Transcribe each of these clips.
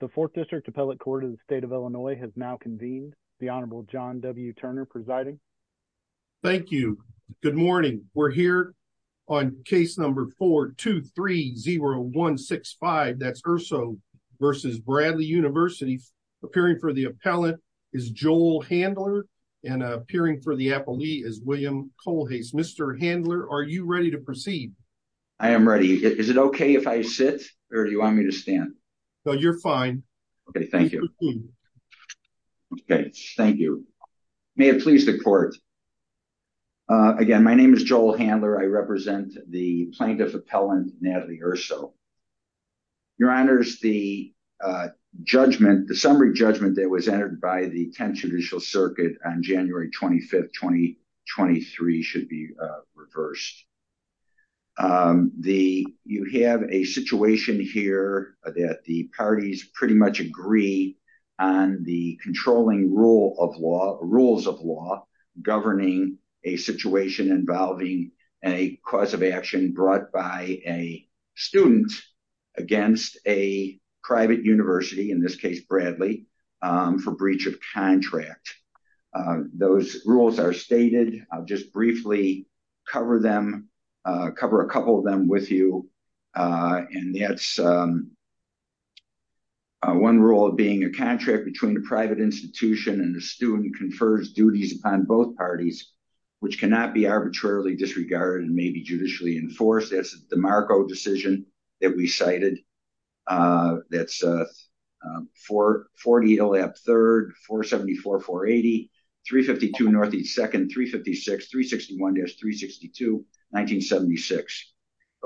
The 4th District Appellate Court of the State of Illinois has now convened. The Honorable John W. Turner presiding. Thank you. Good morning. We're here on case number 4-2-3-0-1-6-5. That's Urso v. Bradley University. Appearing for the appellate is Joel Handler and appearing for the appellee is William Kohlhase. Mr. Handler, are you ready to proceed? I am ready. Is it okay if I sit or do you want me to stand? No, you're fine. Okay, thank you. Okay, thank you. May it please the court. Again, my name is Joel Handler. I represent the Plaintiff Appellant, Natalie Urso. Your Honors, the summary judgment that was entered by the 10th Judicial Circuit on January 25, 2023 should be reversed. You have a situation here that the parties pretty much agree on the controlling rules of law governing a situation involving a cause of action brought by a student against a private university, in this case, Bradley, for breach of contract. Those rules are stated. I'll just briefly cover them, cover a couple of them with you, and that's one rule of being a contract between a private institution and a student confers duties upon both parties, which cannot be arbitrarily disregarded and may be judicially enforced. That's the DeMarco decision that we cited. That's 4-40-0-3, 4-74-4-80, 3-52-0-2, 3-56-361-362-1976.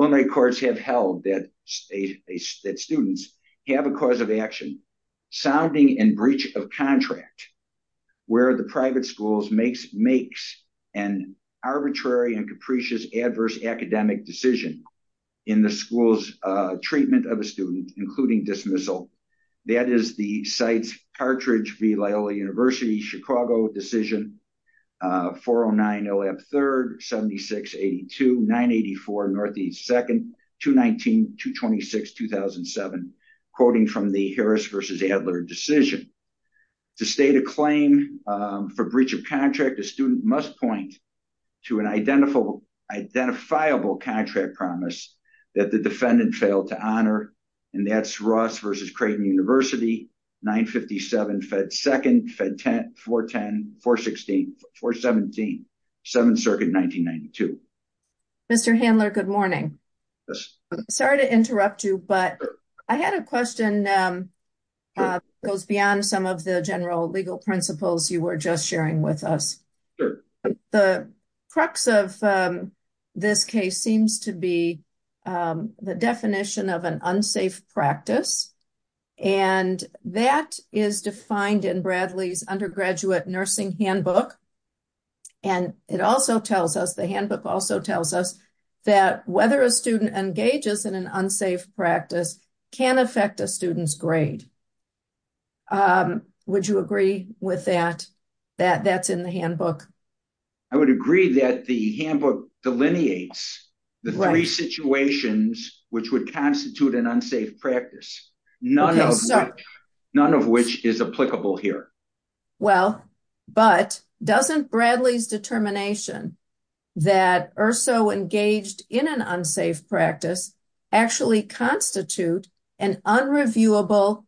Illinois courts have held that students have a cause of action sounding in breach of contract where the private school makes an arbitrary and capricious adverse academic decision in the school's treatment of a student, including dismissal. That is the Cartridge v. Loyola University, Chicago decision, 4-09-0-F-3, 76-82, 9-84-N-2, 2-19-226-2007, quoting from the Harris v. Adler decision. To state a claim for breach of contract, a student must point to an identifiable contract promise that the defendant failed to honor, and that's Ross v. Creighton University, 9-57-F-2, 4-10-4-17, 7th Circuit, 1992. Mr. Handler, good morning. Sorry to interrupt you, but I had a question that goes beyond some of the general legal principles you were just sharing with us. The crux of this case seems to be the definition of an unsafe practice, and that is defined in Bradley's undergraduate nursing handbook, and it also tells us, the handbook also tells us, that whether a student engages in an unsafe practice can affect a student's grade. Would you agree with that, that that's the handbook? I would agree that the handbook delineates the three situations which would constitute an unsafe practice, none of which is applicable here. Well, but doesn't Bradley's determination that Erso engaged in an unsafe practice actually constitute an unreviewable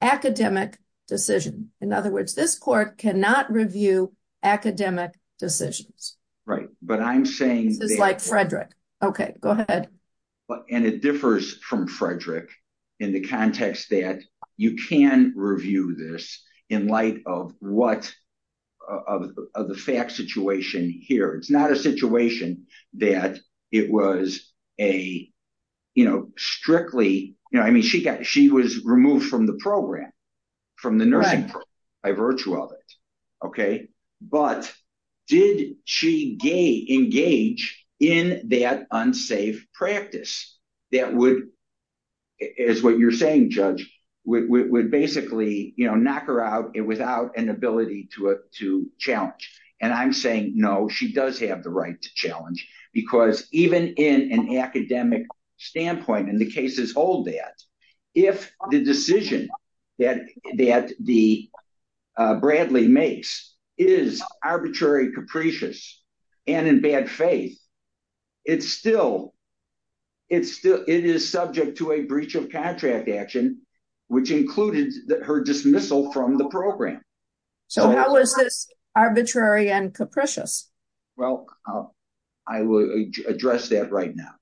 academic decision? In other words, this court cannot review academic decisions. Right, but I'm saying... This is like Frederick. Okay, go ahead. And it differs from Frederick in the context that you can review this in light of what of the fact situation here. It's not a situation that it was a, you know, strictly, you know, I mean, she got, she was removed from the program, from the nursing program, by virtue of it. Okay, but did she engage in that unsafe practice that would, as what you're saying, Judge, would basically, you know, knock her out without an ability to challenge? And I'm saying no, she does have the right to challenge, because even in an academic standpoint, and the cases hold that, if the decision that the Bradley makes is arbitrary, capricious, and in bad faith, it's still, it's still, it is subject to a breach of contract action, which included her dismissal from the program. So how is this arbitrary and capricious? Well, I will address that right now.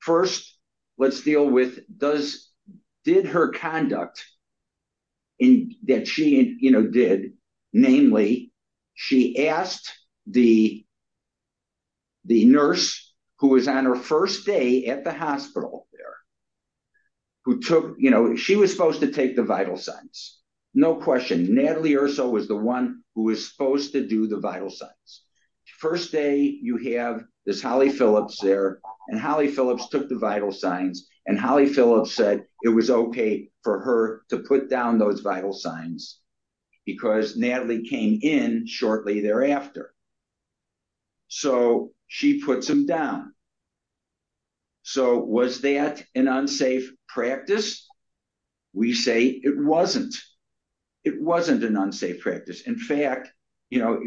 First, let's deal with does, did her conduct, in that she, you know, did, namely, she asked the nurse who was on her first day at the hospital there, who took, you know, she was supposed to take the vital signs. No question, Natalie Erso was the one who was supposed to do the vital signs. First day, you have this Holly Phillips there, and Holly Phillips took the vital signs, and Holly Phillips said it was okay for her to put down those vital signs, because Natalie came in shortly thereafter. So she puts them down. So was that an unsafe practice? We say it wasn't. It wasn't an unsafe practice. In fact, you know,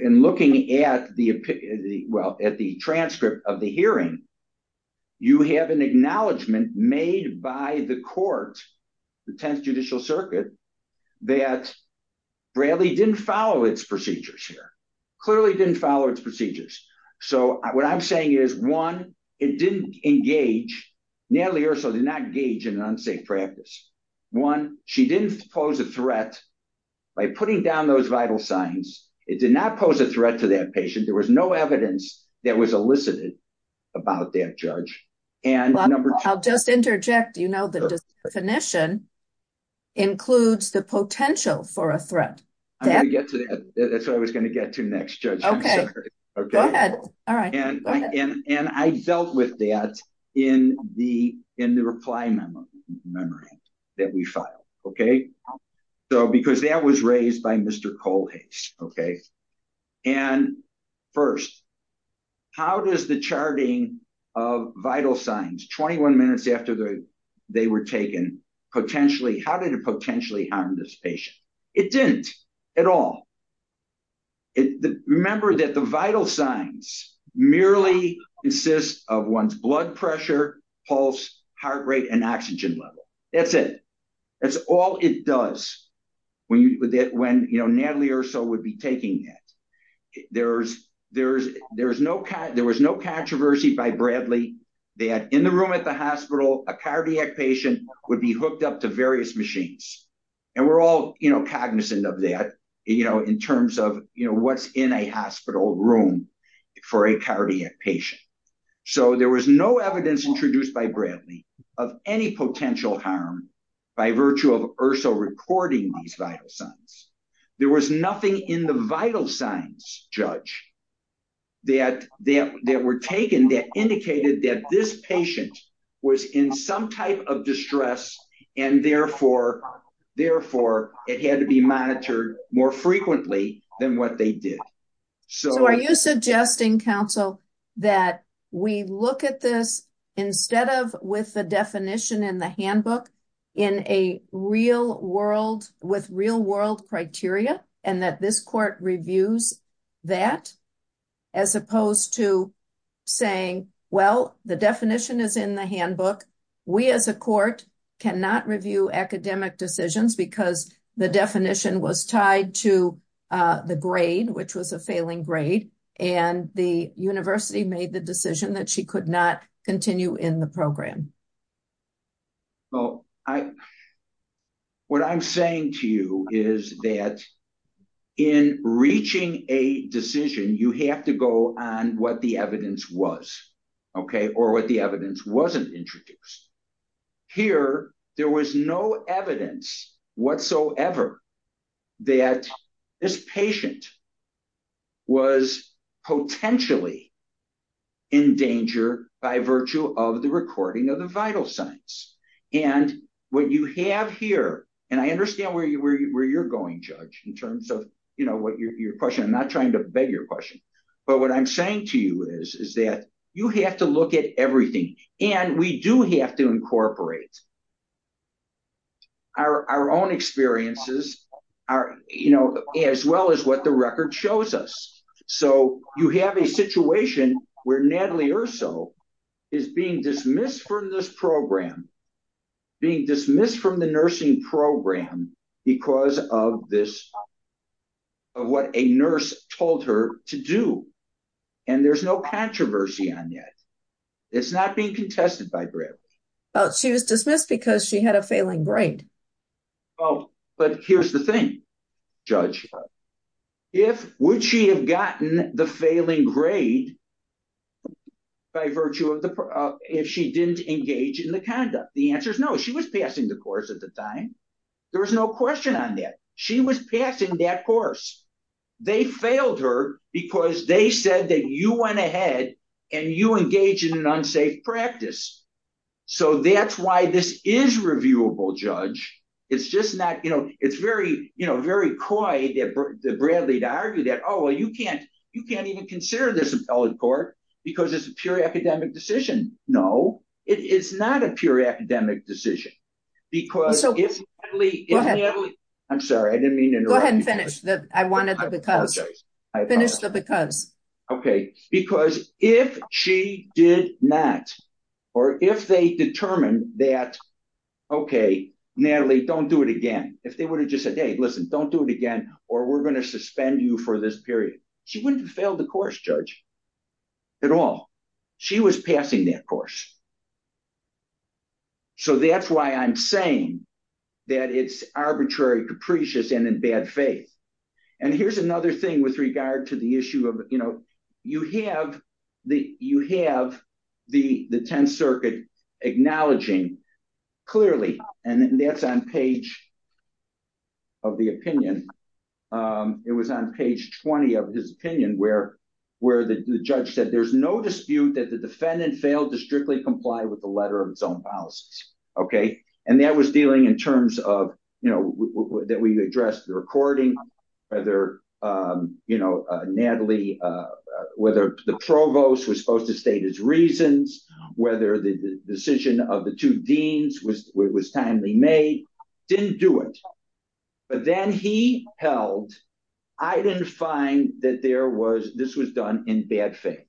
in looking at the, well, at the transcript of the hearing, you have an acknowledgement made by the court, the 10th Judicial Circuit, that Bradley didn't follow its procedures here, clearly didn't follow its procedures. So what I'm saying is, one, it didn't engage, Natalie Erso did not engage in an unsafe practice. One, she didn't pose a threat by putting down those vital signs. It did not pose a threat to that patient. There was no evidence that was elicited about that judge. And I'll just interject, you know, the definition includes the potential for a threat. I'm going to get to that. That's what I was going to get to next, Judge. Okay. Go ahead. All right. And I dealt with that in the reply memo that we filed, okay? So because that was raised by Mr. Kohlhase, okay? And first, how does the charting of vital signs, 21 minutes after they were taken, potentially, how did it potentially harm this patient? It didn't at all. Remember that the vital signs merely insist of one's blood pressure, pulse, heart rate, and oxygen level. That's it. That's all it does when, you know, Natalie Erso would be taking that. There was no controversy by Bradley that in the room at the hospital, a cardiac patient would be hooked up to various machines. And we're all, you know, cognizant of that, you know, in terms of, you know, what's in a hospital room for a cardiac patient. So there was no evidence introduced by Bradley of any potential harm by virtue of Erso recording these vital signs. There was nothing in the vital signs, Judge, that were taken that indicated that this patient was in some type of distress, and therefore, it had to be monitored more frequently than what they did. So are you suggesting, counsel, that we look at this instead of with the definition in the handbook in a real world, with real world criteria, and that this court reviews that, as opposed to saying, well, the definition is in the handbook. We as a court cannot review academic decisions because the definition was tied to the grade, which was a failing grade, and the university made the decision that she could not continue in the program. Well, what I'm saying to you is that in reaching a decision, you have to go on what the evidence was, okay, or what the evidence wasn't introduced. Here, there was no evidence whatsoever that this patient was potentially in danger by virtue of the recording of the vital signs. And what you have here, and I understand where you're going, Judge, in terms of, you know, what your question, I'm not trying to beg your question, but what I'm saying to you is that you have to look at and we do have to incorporate our own experiences, you know, as well as what the record shows us. So you have a situation where Natalie Erso is being dismissed from this program, being dismissed from the nursing program because of this, of what a nurse told her to do. And there's no controversy on that. It's not being contested by Bradley. Oh, she was dismissed because she had a failing grade. Oh, but here's the thing, Judge. If, would she have gotten the failing grade by virtue of the, if she didn't engage in the conduct? The answer is no. She was passing the course at the time. There was no question on that. She was passing that course. They failed her because they said that you went ahead and you engage in an unsafe practice. So that's why this is reviewable, Judge. It's just not, you know, it's very, you know, very coy that the Bradley to argue that, oh, well, you can't, you can't even consider this appellate court because it's a pure academic decision. No, it is not a pure academic decision because it's. Go ahead. I'm sorry. I didn't mean to interrupt. Go ahead and finish the, I wanted to finish the because. Okay. Because if she did not, or if they determined that, okay, Natalie, don't do it again. If they would have just said, Hey, listen, don't do it again. Or we're going to suspend you for this period. She wouldn't have failed the course judge at all. She was passing that course. So that's why I'm saying that it's arbitrary, capricious, and in bad faith. And here's another thing with regard to the issue of, you know, you have the, you have the, the 10th circuit acknowledging clearly, and that's on page of the opinion. It was on page 20 of his opinion where, where the judge said, there's no dispute that the defendant failed to strictly comply with the letter of its own policies. Okay. And that was dealing in terms of, you know, that we addressed the recording, whether, you know, Natalie, whether the provost was supposed to state his reasons, whether the decision of the two deans was timely made, didn't do it. But then he held, I didn't find that there was, this was done in bad faith.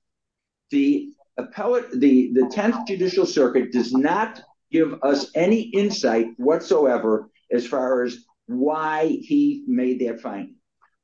The appellate, the 10th judicial circuit does not give us any insight whatsoever. As far as why he made that fine.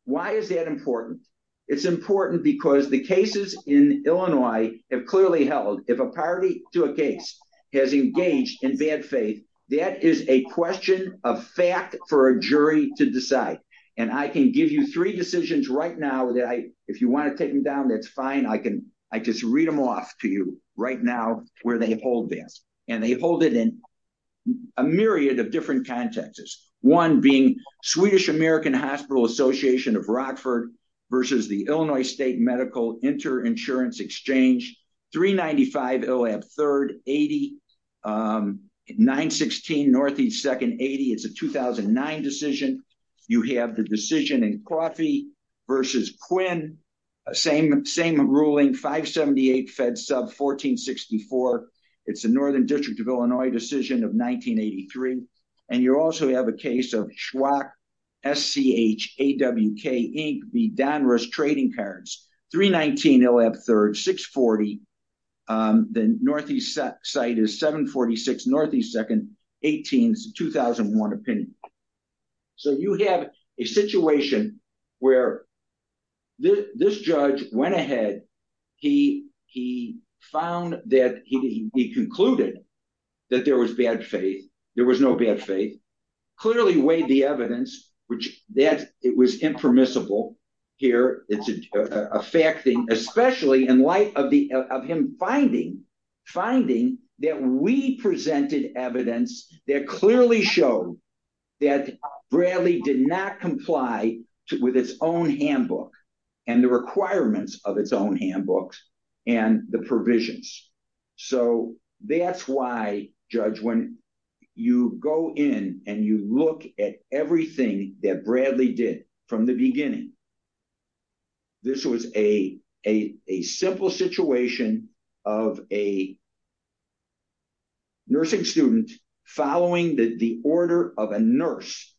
Why is that important? It's important because the cases in Illinois have clearly held. If a party to a case has engaged in bad faith, that is a question of fact for a jury to decide. And I can give you three decisions right now that I, if you want to take them down, that's fine. I can, I just read them off to you right now where they hold this and they hold it in a myriad of different contexts. One being Swedish American Hospital Association of Rockford versus the Illinois State Medical Interinsurance Exchange, 395 Illhab 3rd 80, 916 Northeast 2nd 80. It's a 2009 decision. You have the decision in Coffey versus Quinn, same, same ruling, 578 Fed Sub 1464. It's the Northern District of Illinois decision of 1983. And you also have a case of Schwach, S-C-H-A-W-K v. Donruss Trading Cards, 319 Illhab 3rd 640. The Northeast site is 746 Northeast 2nd 18, 2001 opinion. So you have a situation where this judge went ahead. He found that he concluded that there was bad faith. There was no bad faith. Clearly weighed the evidence, which that it was impermissible here. It's a fact thing, especially in light of the, of him finding, finding that we presented evidence that clearly showed that Bradley did not comply with its own handbook and the requirements of its own handbooks and the provisions. So that's why judge, when you go in and you look at everything that Bradley did from the beginning, this was a, a, a simple situation of a nursing student following the, the order of a nurse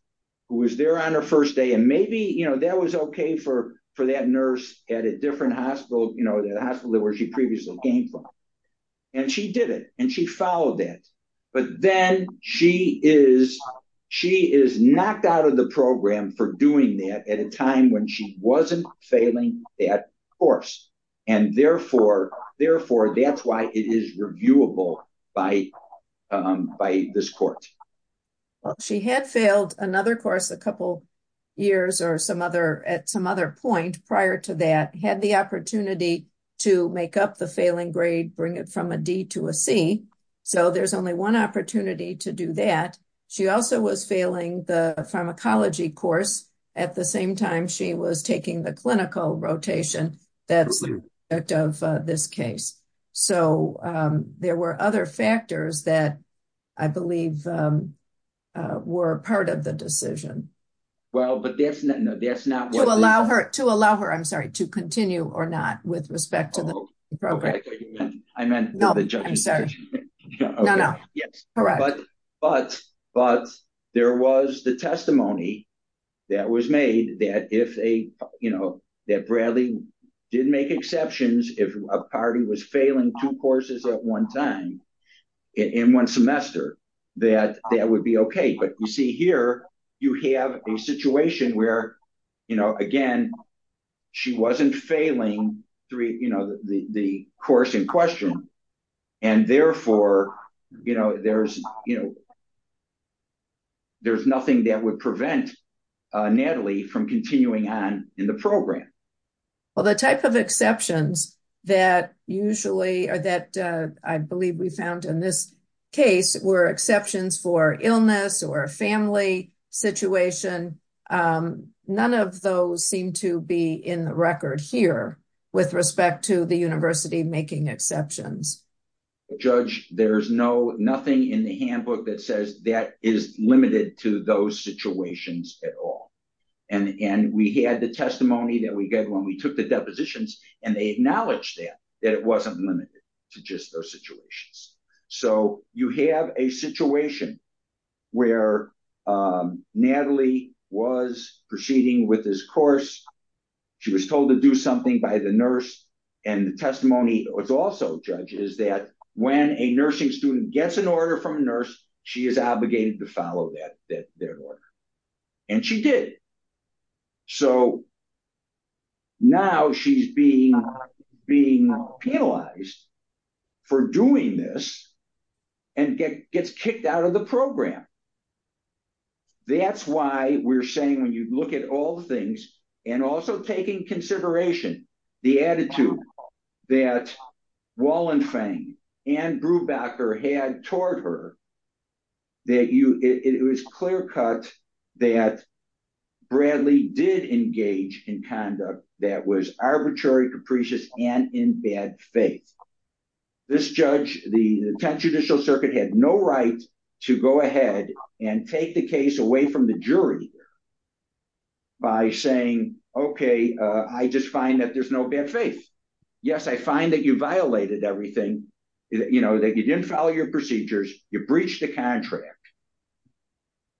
who was there on her first day. And maybe, you know, that was okay for, for that nurse at a different hospital, you know, the hospital where she previously came from. And she did it and she followed that. But then she is, she is knocked out of the program for doing that at a time when she wasn't failing that course. And therefore, therefore that's why it is reviewable by, by this court. Well, she had failed another course a couple years or some other at some other point prior to that, had the opportunity to make up the failing grade, bring it from a D to a C. So there's only one opportunity to do that. She also was failing the pharmacology course at the same time she was taking the clinical rotation that's of this case. So there were other factors that I believe were part of the decision. Well, but that's not, no, that's not. To allow her, to allow her, I'm sorry, to continue or not with respect to the program. I meant the judge. I'm sorry. No, no. Yes. Correct. But, but, but there was the testimony that was made that if a, you know, that Bradley did make exceptions, if a party was failing two courses at one time in one semester, that that would be okay. But you see here, you have a situation where, you know, again, she wasn't failing three, you know, the, the course in question and therefore, you know, there's, you know, there's nothing that would prevent Natalie from continuing on in the program. Well, the type of exceptions that usually are, that I believe we found in this case were exceptions for illness or a family situation. None of those seem to be in the record here with respect to the university making exceptions. Judge, there's no, nothing in the handbook that says that is limited to those situations at all. And, and we had the testimony that we get when we took the depositions and they acknowledged that, that it wasn't limited to just those situations. So you have a situation where Natalie was proceeding with this course. She was told to do something by the nurse and the testimony was also, Judge, is that when a nursing student gets an order from a nurse, she is obligated to follow that, that, that order. And she did. So now she's being, being penalized for doing this and gets kicked out of the program. That's why we're saying, when you look at all the things and also taking consideration, the attitude that Wallenfang and Brubacher had toward her, that you, it was clear cut that Bradley did engage in conduct that was arbitrary, capricious, and in bad faith. This judge, the 10th Judicial Circuit had no right to go ahead and take the case away from the jury by saying, okay, I just find that there's no bad faith. Yes, I find that you violated everything, you know, that you didn't follow your procedures, you breached the contract,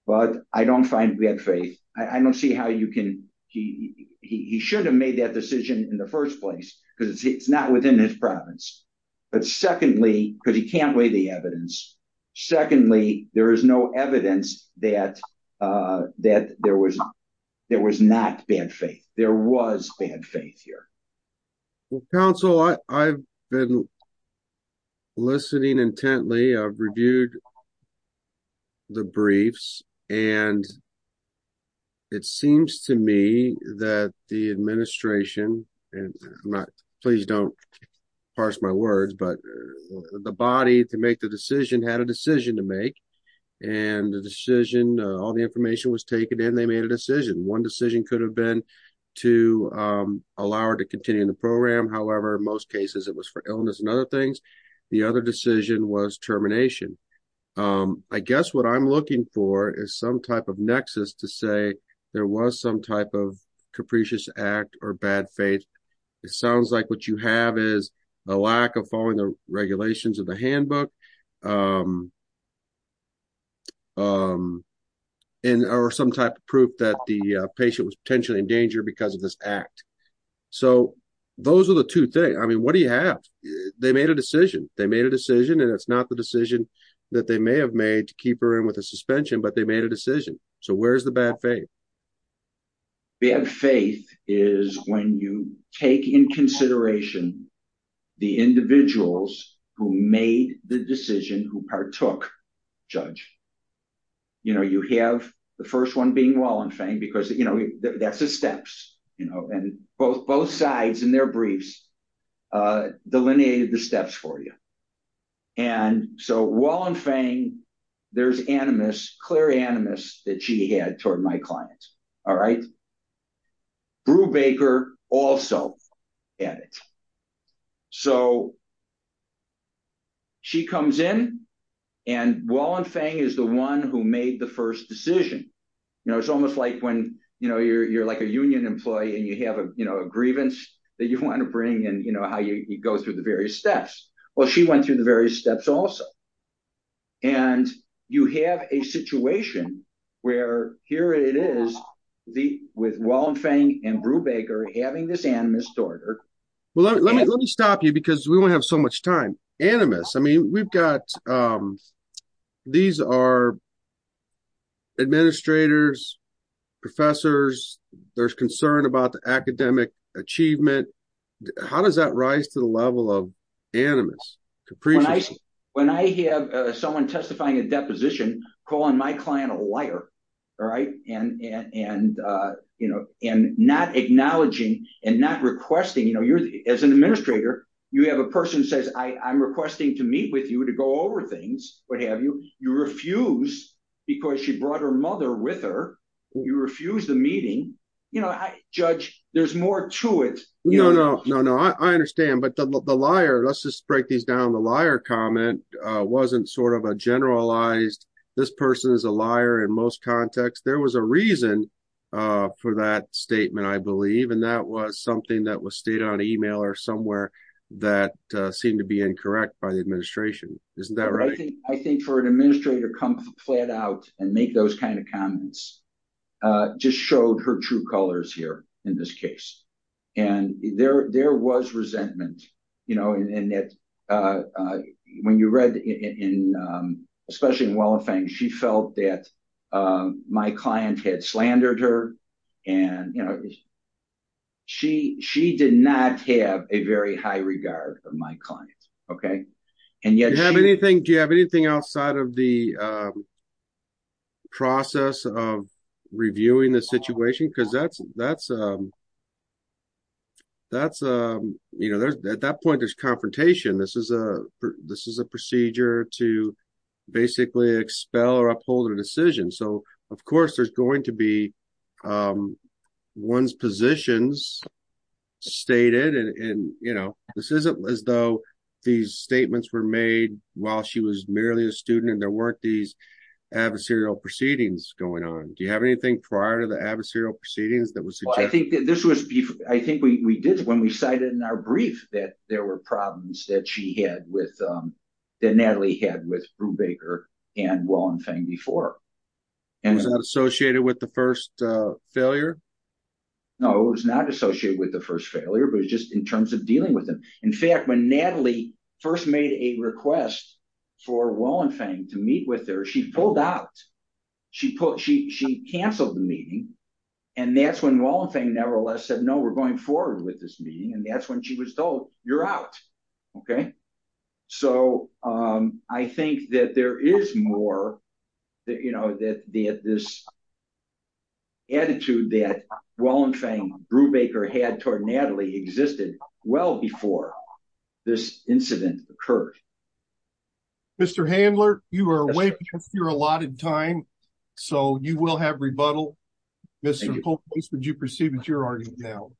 but I don't find bad faith. I don't see how you can, he, he should have made that decision in the first place because it's not within his province. But secondly, because he can't weigh the evidence. Secondly, there is no evidence that, that there was, there was not bad faith. There was bad faith here. Well, counsel, I've been listening intently. I've reviewed the briefs and it seems to me that the administration, and I'm not, please don't parse my words, but the body to make the decision had a decision to make and the decision, all the information was taken and they made a decision. One decision could have been to allow her to continue in the program. However, most cases it was for illness and other things. The other decision was termination. I guess what I'm looking for is some type of nexus to say there was some type of capricious act or bad faith. It sounds like what you have is a lack of following the regulations of the handbook and, or some type of proof that the patient was potentially in danger because of this act. So those are the two things. I mean, what do you have? They made a decision, they made a decision, and it's not the decision that they may have made to keep her in with a suspension, but they made a decision. So where's the bad faith? Bad faith is when you take in consideration the individuals who made the decision, who partook, judge. You have the first one being Wallenfang because that's the steps, and both sides in their briefs delineated the steps for you. And so Wallenfang, there's animus, clear animus that she had toward my client, all right? Brubaker also had it. So she comes in, and Wallenfang is the one who made the first decision. You know, it's almost like when, you know, you're like a union employee and you have a, you know, a grievance that you want to bring and, you know, how you go through the various steps. Well, she went through the and you have a situation where here it is with Wallenfang and Brubaker having this animus toward her. Well, let me stop you because we won't have so much time. Animus, I mean, we've got, these are administrators, professors, there's concern about the academic achievement. How does that rise to the level of animus, capricious? When I have someone testifying a deposition, calling my client a liar, all right? And, you know, and not acknowledging and not requesting, you know, as an administrator, you have a person who says, I'm requesting to meet with you to go over things, what have you. You refuse because she brought her mother with her. You refuse the meeting. You know, judge, there's more to it. No, no, no, no. I understand. But the liar, let's just break these down. The liar comment wasn't sort of a generalized, this person is a liar in most contexts. There was a reason for that statement, I believe. And that was something that was stated on email or somewhere that seemed to be incorrect by the administration. Isn't that right? I think for an administrator to come flat out and make those kind of comments just showed her true colors here in this case. And there was resentment, you know, and that when you read in, especially in Wollofang, she felt that my client had slandered her and, you know, I don't know if you have anything outside of the process of reviewing the situation, because that's, you know, at that point, there's confrontation. This is a procedure to basically expel or uphold a decision. So, of course, there's going to be one's positions stated. And, you know, this isn't as though these statements were made while she was merely a student and there weren't these adversarial proceedings going on. Do you have anything prior to the adversarial proceedings that was? Well, I think that this was, I think we did when we cited in our brief that there were problems that she had with, that Natalie had with Brubaker and Wollofang before. And was that associated with the first failure? No, it was not associated with the first failure, but it's just in terms of dealing with them. In fact, when Natalie first made a request for Wollofang to meet with her, she pulled out. She canceled the meeting and that's when Wollofang nevertheless said, no, we're going forward with this meeting. And that's when she was told you're out. Okay. So, I think that there is more that, you know, that this attitude that Wollofang, Brubaker had toward Natalie existed well before this incident occurred. Mr. Handler, you are away because you're allotted time. So, you will have rebuttal. Mr. Holt, would you proceed with your argument now?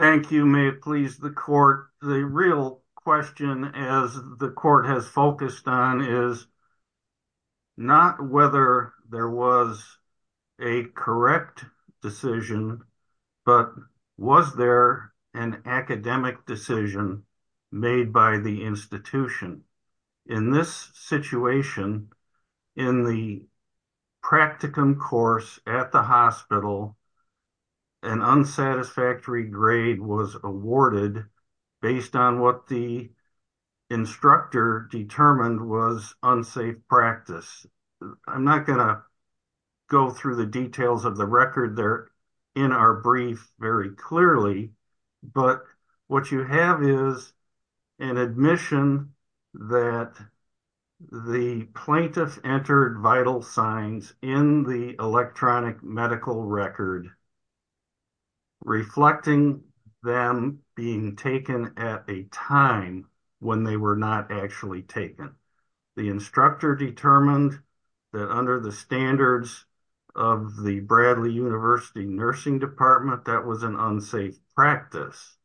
Thank you. May it please the court. The real question as the court has focused on is not whether there was a correct decision, but was there an academic decision made by the institution? In this situation, in the practicum course at the hospital, an unsatisfactory grade was awarded based on what the instructor determined was unsafe practice. I'm not going to go through the details of the record there in our brief very clearly, but what you have is an admission that the plaintiff entered vital signs in the electronic medical record reflecting them being taken at a time when they were not actually taken. The instructor determined that under the standards of the Bradley University nursing department, that was an unsafe practice.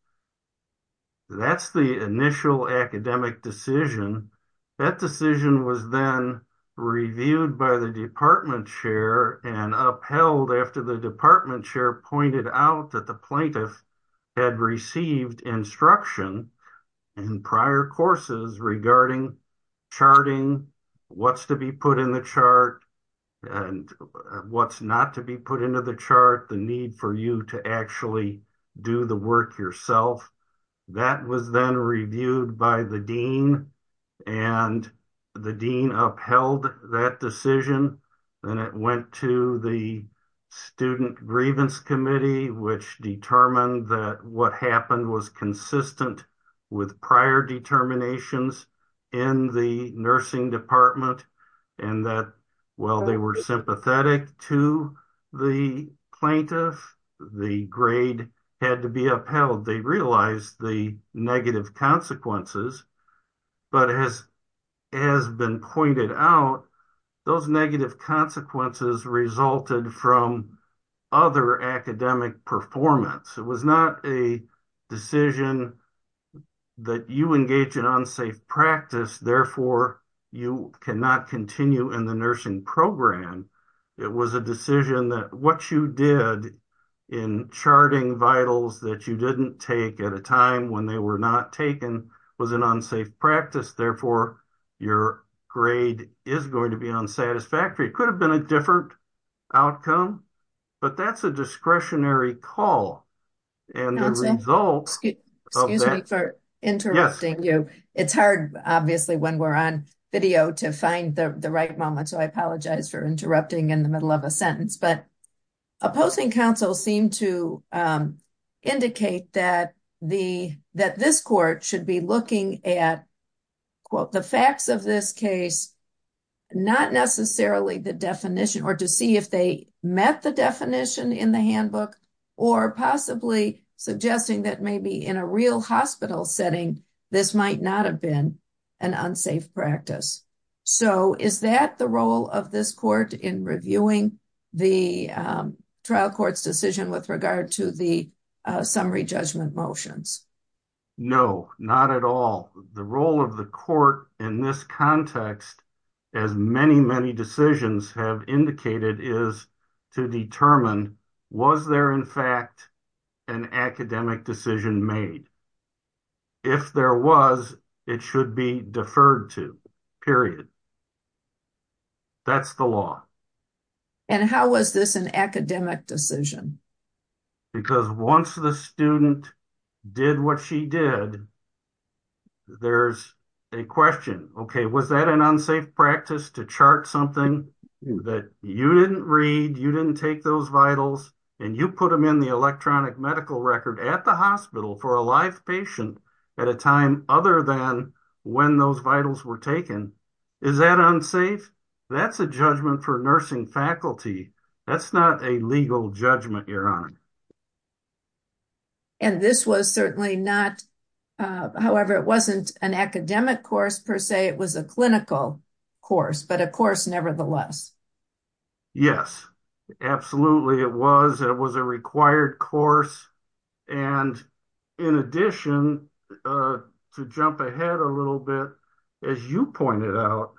That's the initial academic decision. That decision was then upheld after the department chair pointed out that the plaintiff had received instruction in prior courses regarding charting, what's to be put in the chart, and what's not to be put into the chart, the need for you to actually do the work yourself. That was then reviewed by the dean, and the dean upheld that decision, and it went to the student grievance committee, which determined that what happened was consistent with prior determinations in the nursing department, and that while they were sympathetic to the plaintiff, the grade had to be upheld. They realized the negative consequences, but as has been pointed out, those negative consequences resulted from other academic performance. It was not a decision that you engage in unsafe practice, therefore you cannot continue in the nursing program. It was a decision that what you did in charting vitals that you didn't take at a time when they were not taken was an unsafe practice, therefore your grade is going to be unsatisfactory. It could have been a different outcome, but that's a discretionary call, and the results... Interrupting you. It's hard, obviously, when we're on video to find the right moment, so I apologize for interrupting in the middle of a sentence, but opposing counsel seem to indicate that this court should be looking at, quote, the facts of this case, not necessarily the definition, or to see if they met the definition in the handbook, or possibly suggesting that maybe in a real hospital setting, this might not have been an unsafe practice. So, is that the role of this court in reviewing the trial court's decision with regard to the summary judgment motions? No, not at all. The role of the court in this context, as many, many decisions have indicated, is to determine was there, in fact, an academic decision made. If there was, it should be deferred to, period. That's the law. And how was this an academic decision? Because once the student did what she did, there's a question, okay, was that an unsafe practice to chart something that you didn't read, you didn't take those vitals, and you put them in the electronic medical record at the hospital for a live patient at a time other than when those vitals were taken? Is that unsafe? That's a judgment for nursing faculty. That's not a legal judgment, Your Honor. And this was certainly not, however, it wasn't an academic course, per se. It was a clinical course, but a course nevertheless. Yes, absolutely. It was. It was a required course. And in addition, to jump ahead a little bit, as you pointed out,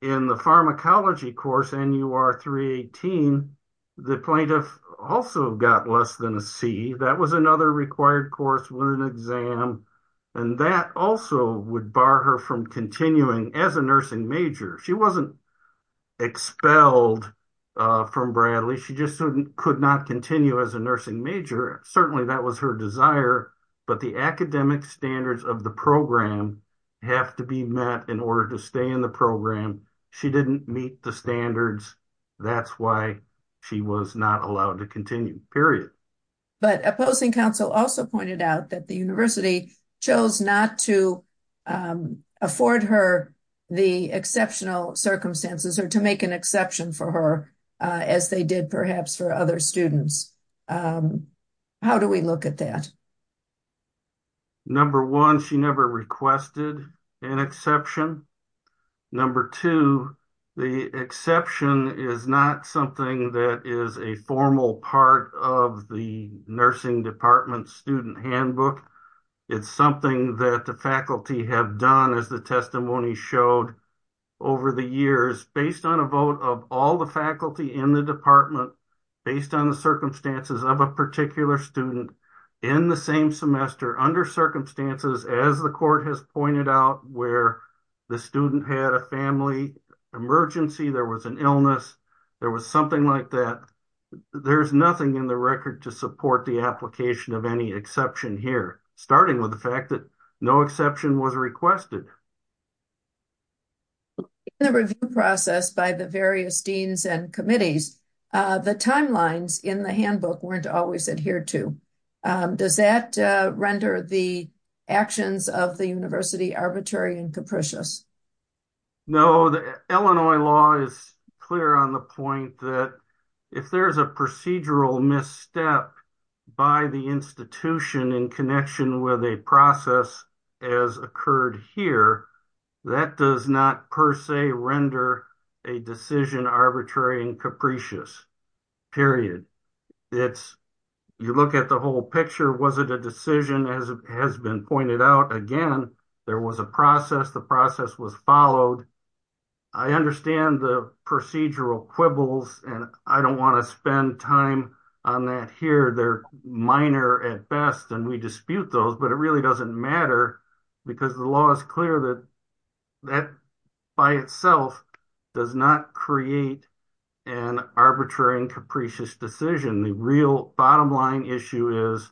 in the pharmacology course, NUR 318, the plaintiff also got less than a C. That was another required course with an exam. And that also would bar her from continuing as a nursing major. She wasn't expelled from Bradley. She just couldn't continue as a nursing major. Certainly, that was her desire. But the academic standards of the program have to be met in order to stay in the program. She didn't meet the standards. That's why she was not allowed to continue, period. But a posting counsel also pointed out that the university chose not to afford her the exceptional circumstances or to make an exception for her, as they did perhaps for other students. How do we look at that? Number one, she never requested an exception. Number two, the exception is not something that is a formal part of the nursing department student handbook. It's something that the faculty have done, as the testimony showed over the years, based on a vote of all the faculty in the department, based on the circumstances of a particular student, in the same semester, under circumstances, as the court has pointed out, where the student had a family emergency, there was an illness, there was something like that. There's nothing in the record to support the application of any exception here, starting with the fact that no exception was requested. In the review process by the various deans and committees, the timelines in the handbook weren't always adhered to. Does that render the actions of the university arbitrary and capricious? No, the Illinois law is clear on the point that if there is a procedural misstep by the institution in connection with a process as occurred here, that does not per se render a decision arbitrary and capricious. Period. You look at the whole picture, was it a decision, as has been pointed out, again, there was a process, the process was followed. I understand the procedural quibbles, and I don't want to spend time on that here, they are minor at best, and we dispute those, but it really doesn't matter, because the law is clear that that by itself does not create an arbitrary and capricious decision. The real bottom line issue is,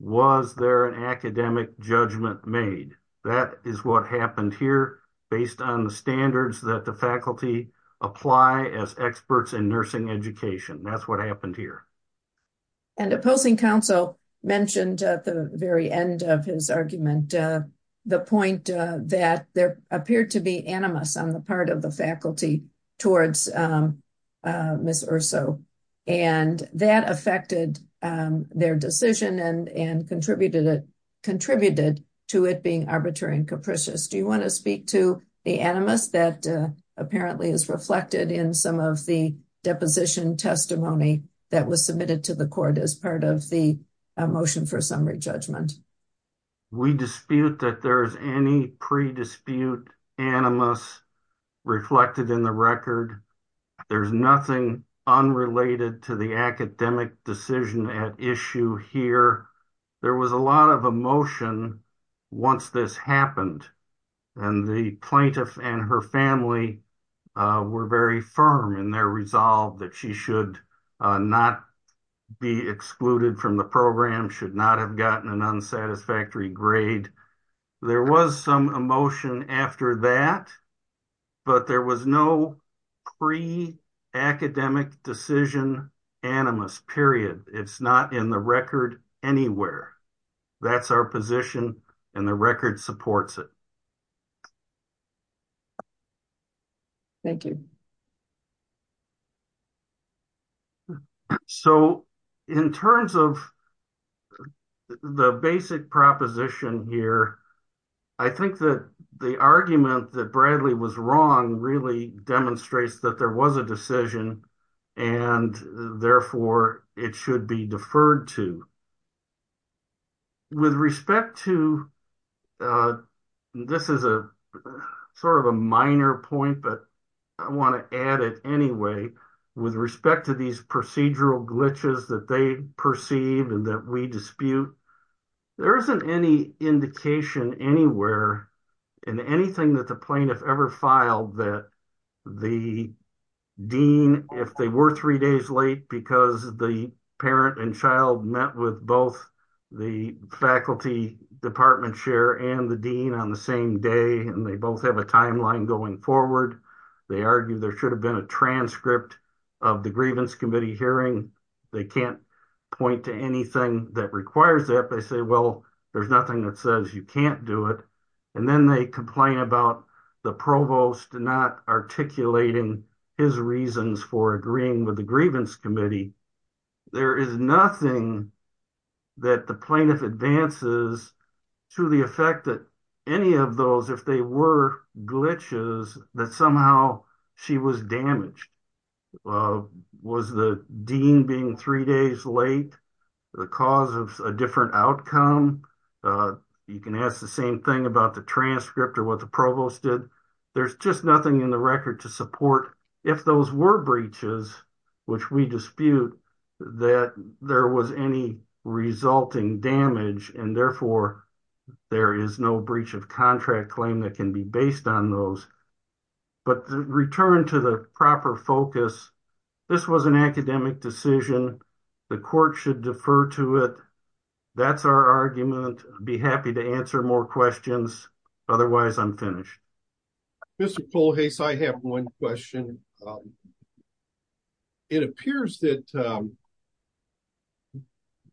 was there an academic judgment made? That is what happened based on the standards that the faculty apply as experts in nursing education. That is what happened here. The opposing counsel mentioned at the very end of his argument the point that there appeared to be animus on the part of the faculty towards Ms. Urso, and that affected their decision and contributed to it being arbitrary and capricious. Do you want to speak to the animus that apparently is reflected in some of the deposition testimony that was submitted to the court as part of the motion for summary judgment? We dispute that there is any predispute animus reflected in the record. There is nothing unrelated to the academic decision at issue here. There was a lot of emotion once this happened, and the plaintiff and her family were very firm in their resolve that she should not be excluded from the program, should not have gotten an unsatisfactory grade. There was some emotion after that, but there was no pre-academic decision animus, period. It is not in the record anywhere. That is our position, and the record supports it. Thank you. So, in terms of the basic proposition here, I think that the argument that Bradley was wrong really demonstrates that there was a decision, and therefore, it should be deferred to. With respect to, this is a minor point, but I want to make it clear that anyway, with respect to these procedural glitches that they perceive and that we dispute, there is not any indication anywhere in anything that the plaintiff ever filed that the dean, if they were three days late because the parent and child met with both the faculty department chair and the dean on the same day, and they both have a timeline going forward, they argue there should have been a transcript of the grievance committee hearing. They can't point to anything that requires that. They say, well, there's nothing that says you can't do it, and then they complain about the provost not articulating his reasons for agreeing with the grievance committee. There is nothing that the plaintiff advances to the effect that any of the glitches that somehow she was damaged. Was the dean being three days late the cause of a different outcome? You can ask the same thing about the transcript or what the provost did. There's just nothing in the record to support if those were breaches, which we dispute that there was any resulting damage, and therefore, there is no breach of contract claim that can be based on those. But to return to the proper focus, this was an academic decision. The court should defer to it. That's our argument. I'd be happy to answer more questions. Otherwise, I'm finished. Mr. Polohase, I have one question. It appears that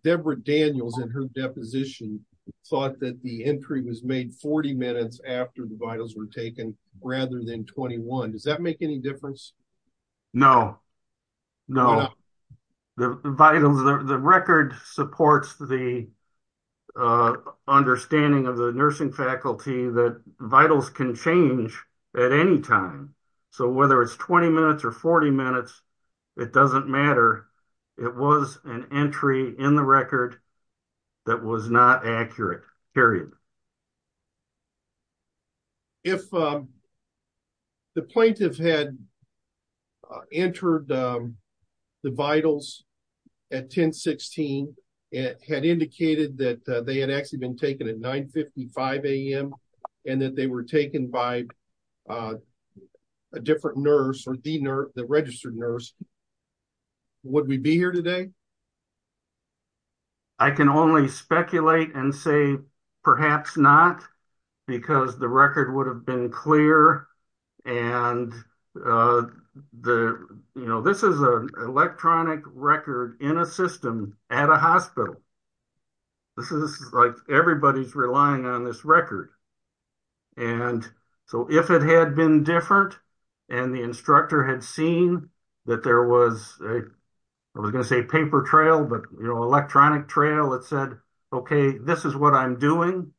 Deborah Daniels in her deposition thought that the entry was made 40 minutes after the vitals were taken rather than 21. Does that make any difference? No. The record supports the understanding of the nursing faculty that vitals can change at any time. Whether it's 20 minutes or 40 minutes, it doesn't matter. It was an entry in the record that was not accurate, period. If the plaintiff had entered the vitals at 10.16, it had indicated that they had actually been taken at 9.55 a.m. and that they were taken by a different nurse or the registered nurse, would we be here today? I can only speculate and say perhaps not, because the record would have been clear. This is an electronic record in a system at a hospital. Everybody is relying on it. I was going to say paper trail, but electronic trail that said, okay, this is what I'm doing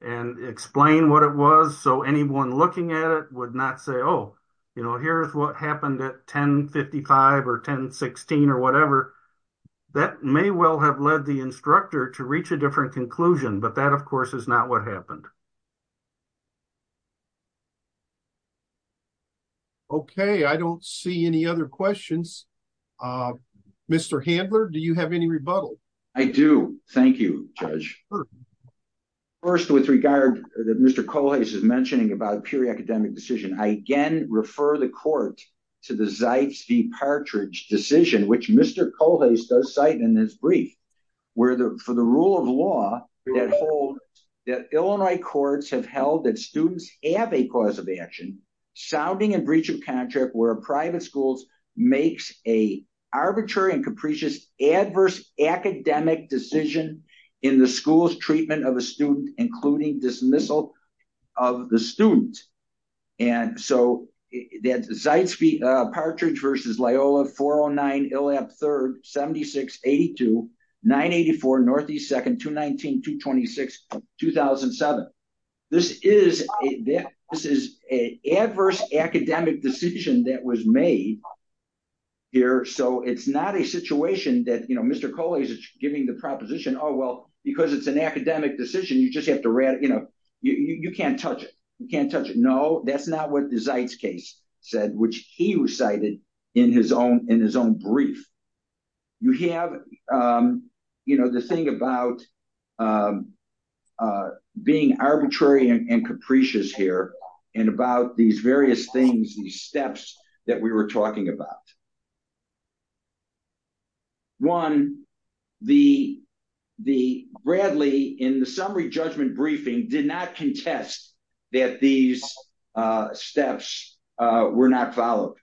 and explain what it was. Anyone looking at it would not say, here's what happened at 10.55 or 10.16 or whatever. That may well have led the instructor to reach a different conclusion, but that, of course, is not what happened. Okay. I don't see any other questions. Mr. Handler, do you have any rebuttal? I do. Thank you, Judge. First, with regard that Mr. Colhase is mentioning about a purely academic decision, I again refer the court to the Zipes v. Partridge decision, which Mr. Colhase does cite in his brief, where for the rule of law that Illinois courts have held that students have a cause of action, sounding a breach of contract where a private school makes an arbitrary and capricious adverse academic decision in the school's treatment of a student, including dismissal of the student. And so that Zipes v. Partridge v. Loyola, 409 Illhab 3rd, 7682, 984 Northeast 2nd, 219, 226, 2007. This is an adverse academic decision that was made here. So it's not a situation that, you know, Mr. Colhase is giving the proposition, oh, well, because it's an academic decision, you just have to, you know, you can't touch it. You can't touch it. No, that's not what the Zipes case said, which he recited in his own brief. You have, you know, the thing about being arbitrary and capricious here and about these various things, these steps that we were talking about. One, the Bradley, in the summary judgment briefing, did not contest that these steps were not followed.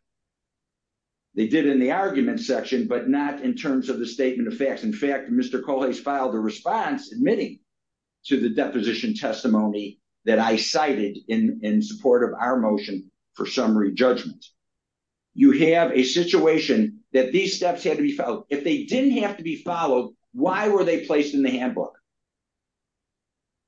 They did in the argument section, but not in terms of the statement of facts. In fact, Mr. Colhase filed a response admitting to the deposition testimony that I cited in support of our motion for summary judgment. You have a situation that these steps had to be followed. If they didn't have to be followed, why were they placed in the handbook?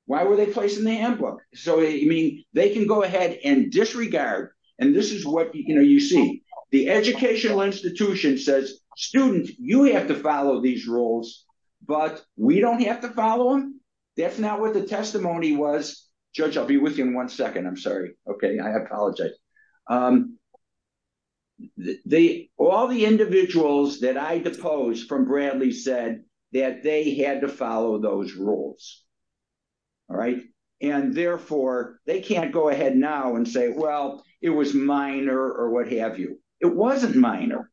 Why were they placed in the handbook? So, I mean, they can go ahead and disregard, and this is what, you know, you see, the educational institution says, student, you have to follow these rules, but we don't have to follow them. That's not what the testimony was. Judge, I'll be with you in one second. I'm sorry. Okay, I apologize. All the individuals that I deposed from Bradley said that they had to follow those rules, all right? And therefore, they can't go ahead now and say, well, it was minor or what have you. It wasn't minor.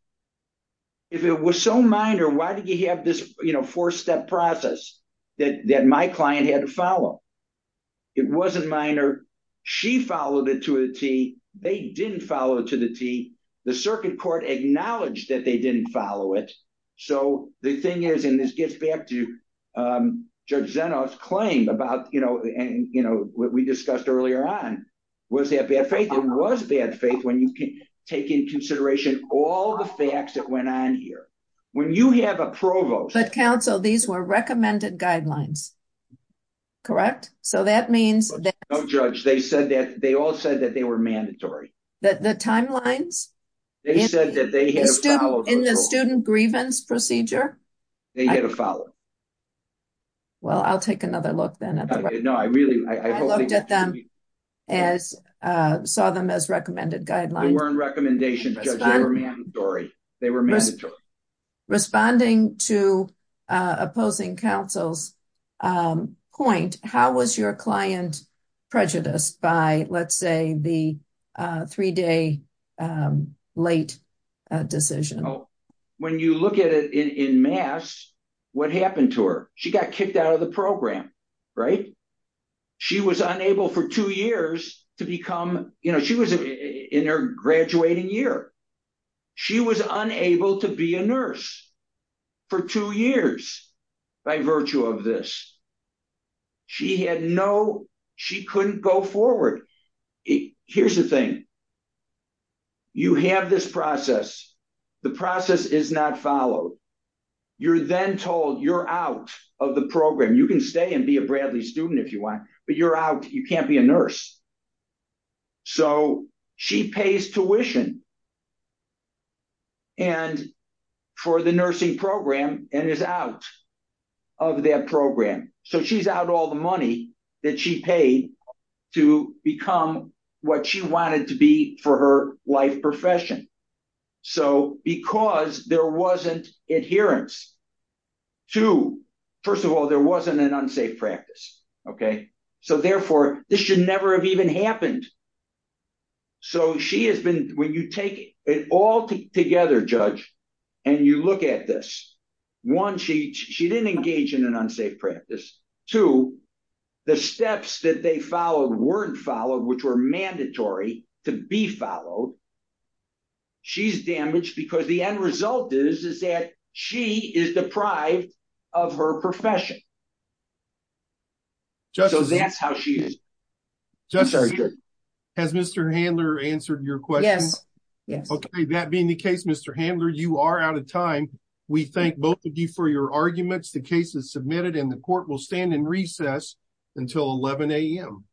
If it was so minor, why did you have this, you know, four-step process that my client had to follow? It wasn't minor. She followed it to a tee. They didn't follow it to the tee. The circuit court acknowledged that they didn't follow it. So, the thing is, and this gets back to Judge Zenoff's claim about, you know, and, you know, what we discussed earlier on, was that bad faith? It was bad faith when you take into consideration all the facts that went on here. When you have a provost... But, counsel, these were recommended guidelines, correct? So, that means... No, Judge, they said that, they all said that they were mandatory. The timelines? They said that they had to follow... In the student grievance procedure? They had to follow. Well, I'll take another look then. No, I really, I hope... I looked at them. I saw them as recommended guidelines. They weren't recommendations, Judge. They were mandatory. They were mandatory. Responding to opposing counsel's point, how was your client prejudiced by, let's say, the three-day late decision? When you look at it in mass, what happened to her? She got kicked out of the program, right? She was unable for two years to become... You know, she was in her graduating year. She was unable to be a nurse for two years by virtue of this. She had no... She couldn't go forward. Here's the thing. You have this process. The process is not followed. You're then told you're out of the program. You can stay and be a Bradley student if you want, but you're out. You can't be a nurse. So, she pays tuition for the nursing program and is out of that program. So, she's out all the money that she paid to become what she wanted to be for her life profession. So, because there wasn't adherence to... First of all, there wasn't an unsafe practice, okay? So, therefore, this should never have even happened. So, she has been... When you take it all together, Judge, and you look at this, one, she didn't engage in an unsafe practice. Two, the steps that they followed weren't followed, which were mandatory to be followed. She's damaged because the end result is that she is deprived of her profession. So, that's how she is. Justice, has Mr. Handler answered your question? Yes. Okay. That being the case, Mr. Handler, you are out of time. We thank both of you for your arguments. The case is submitted and the court will stand in recess until 11 a.m.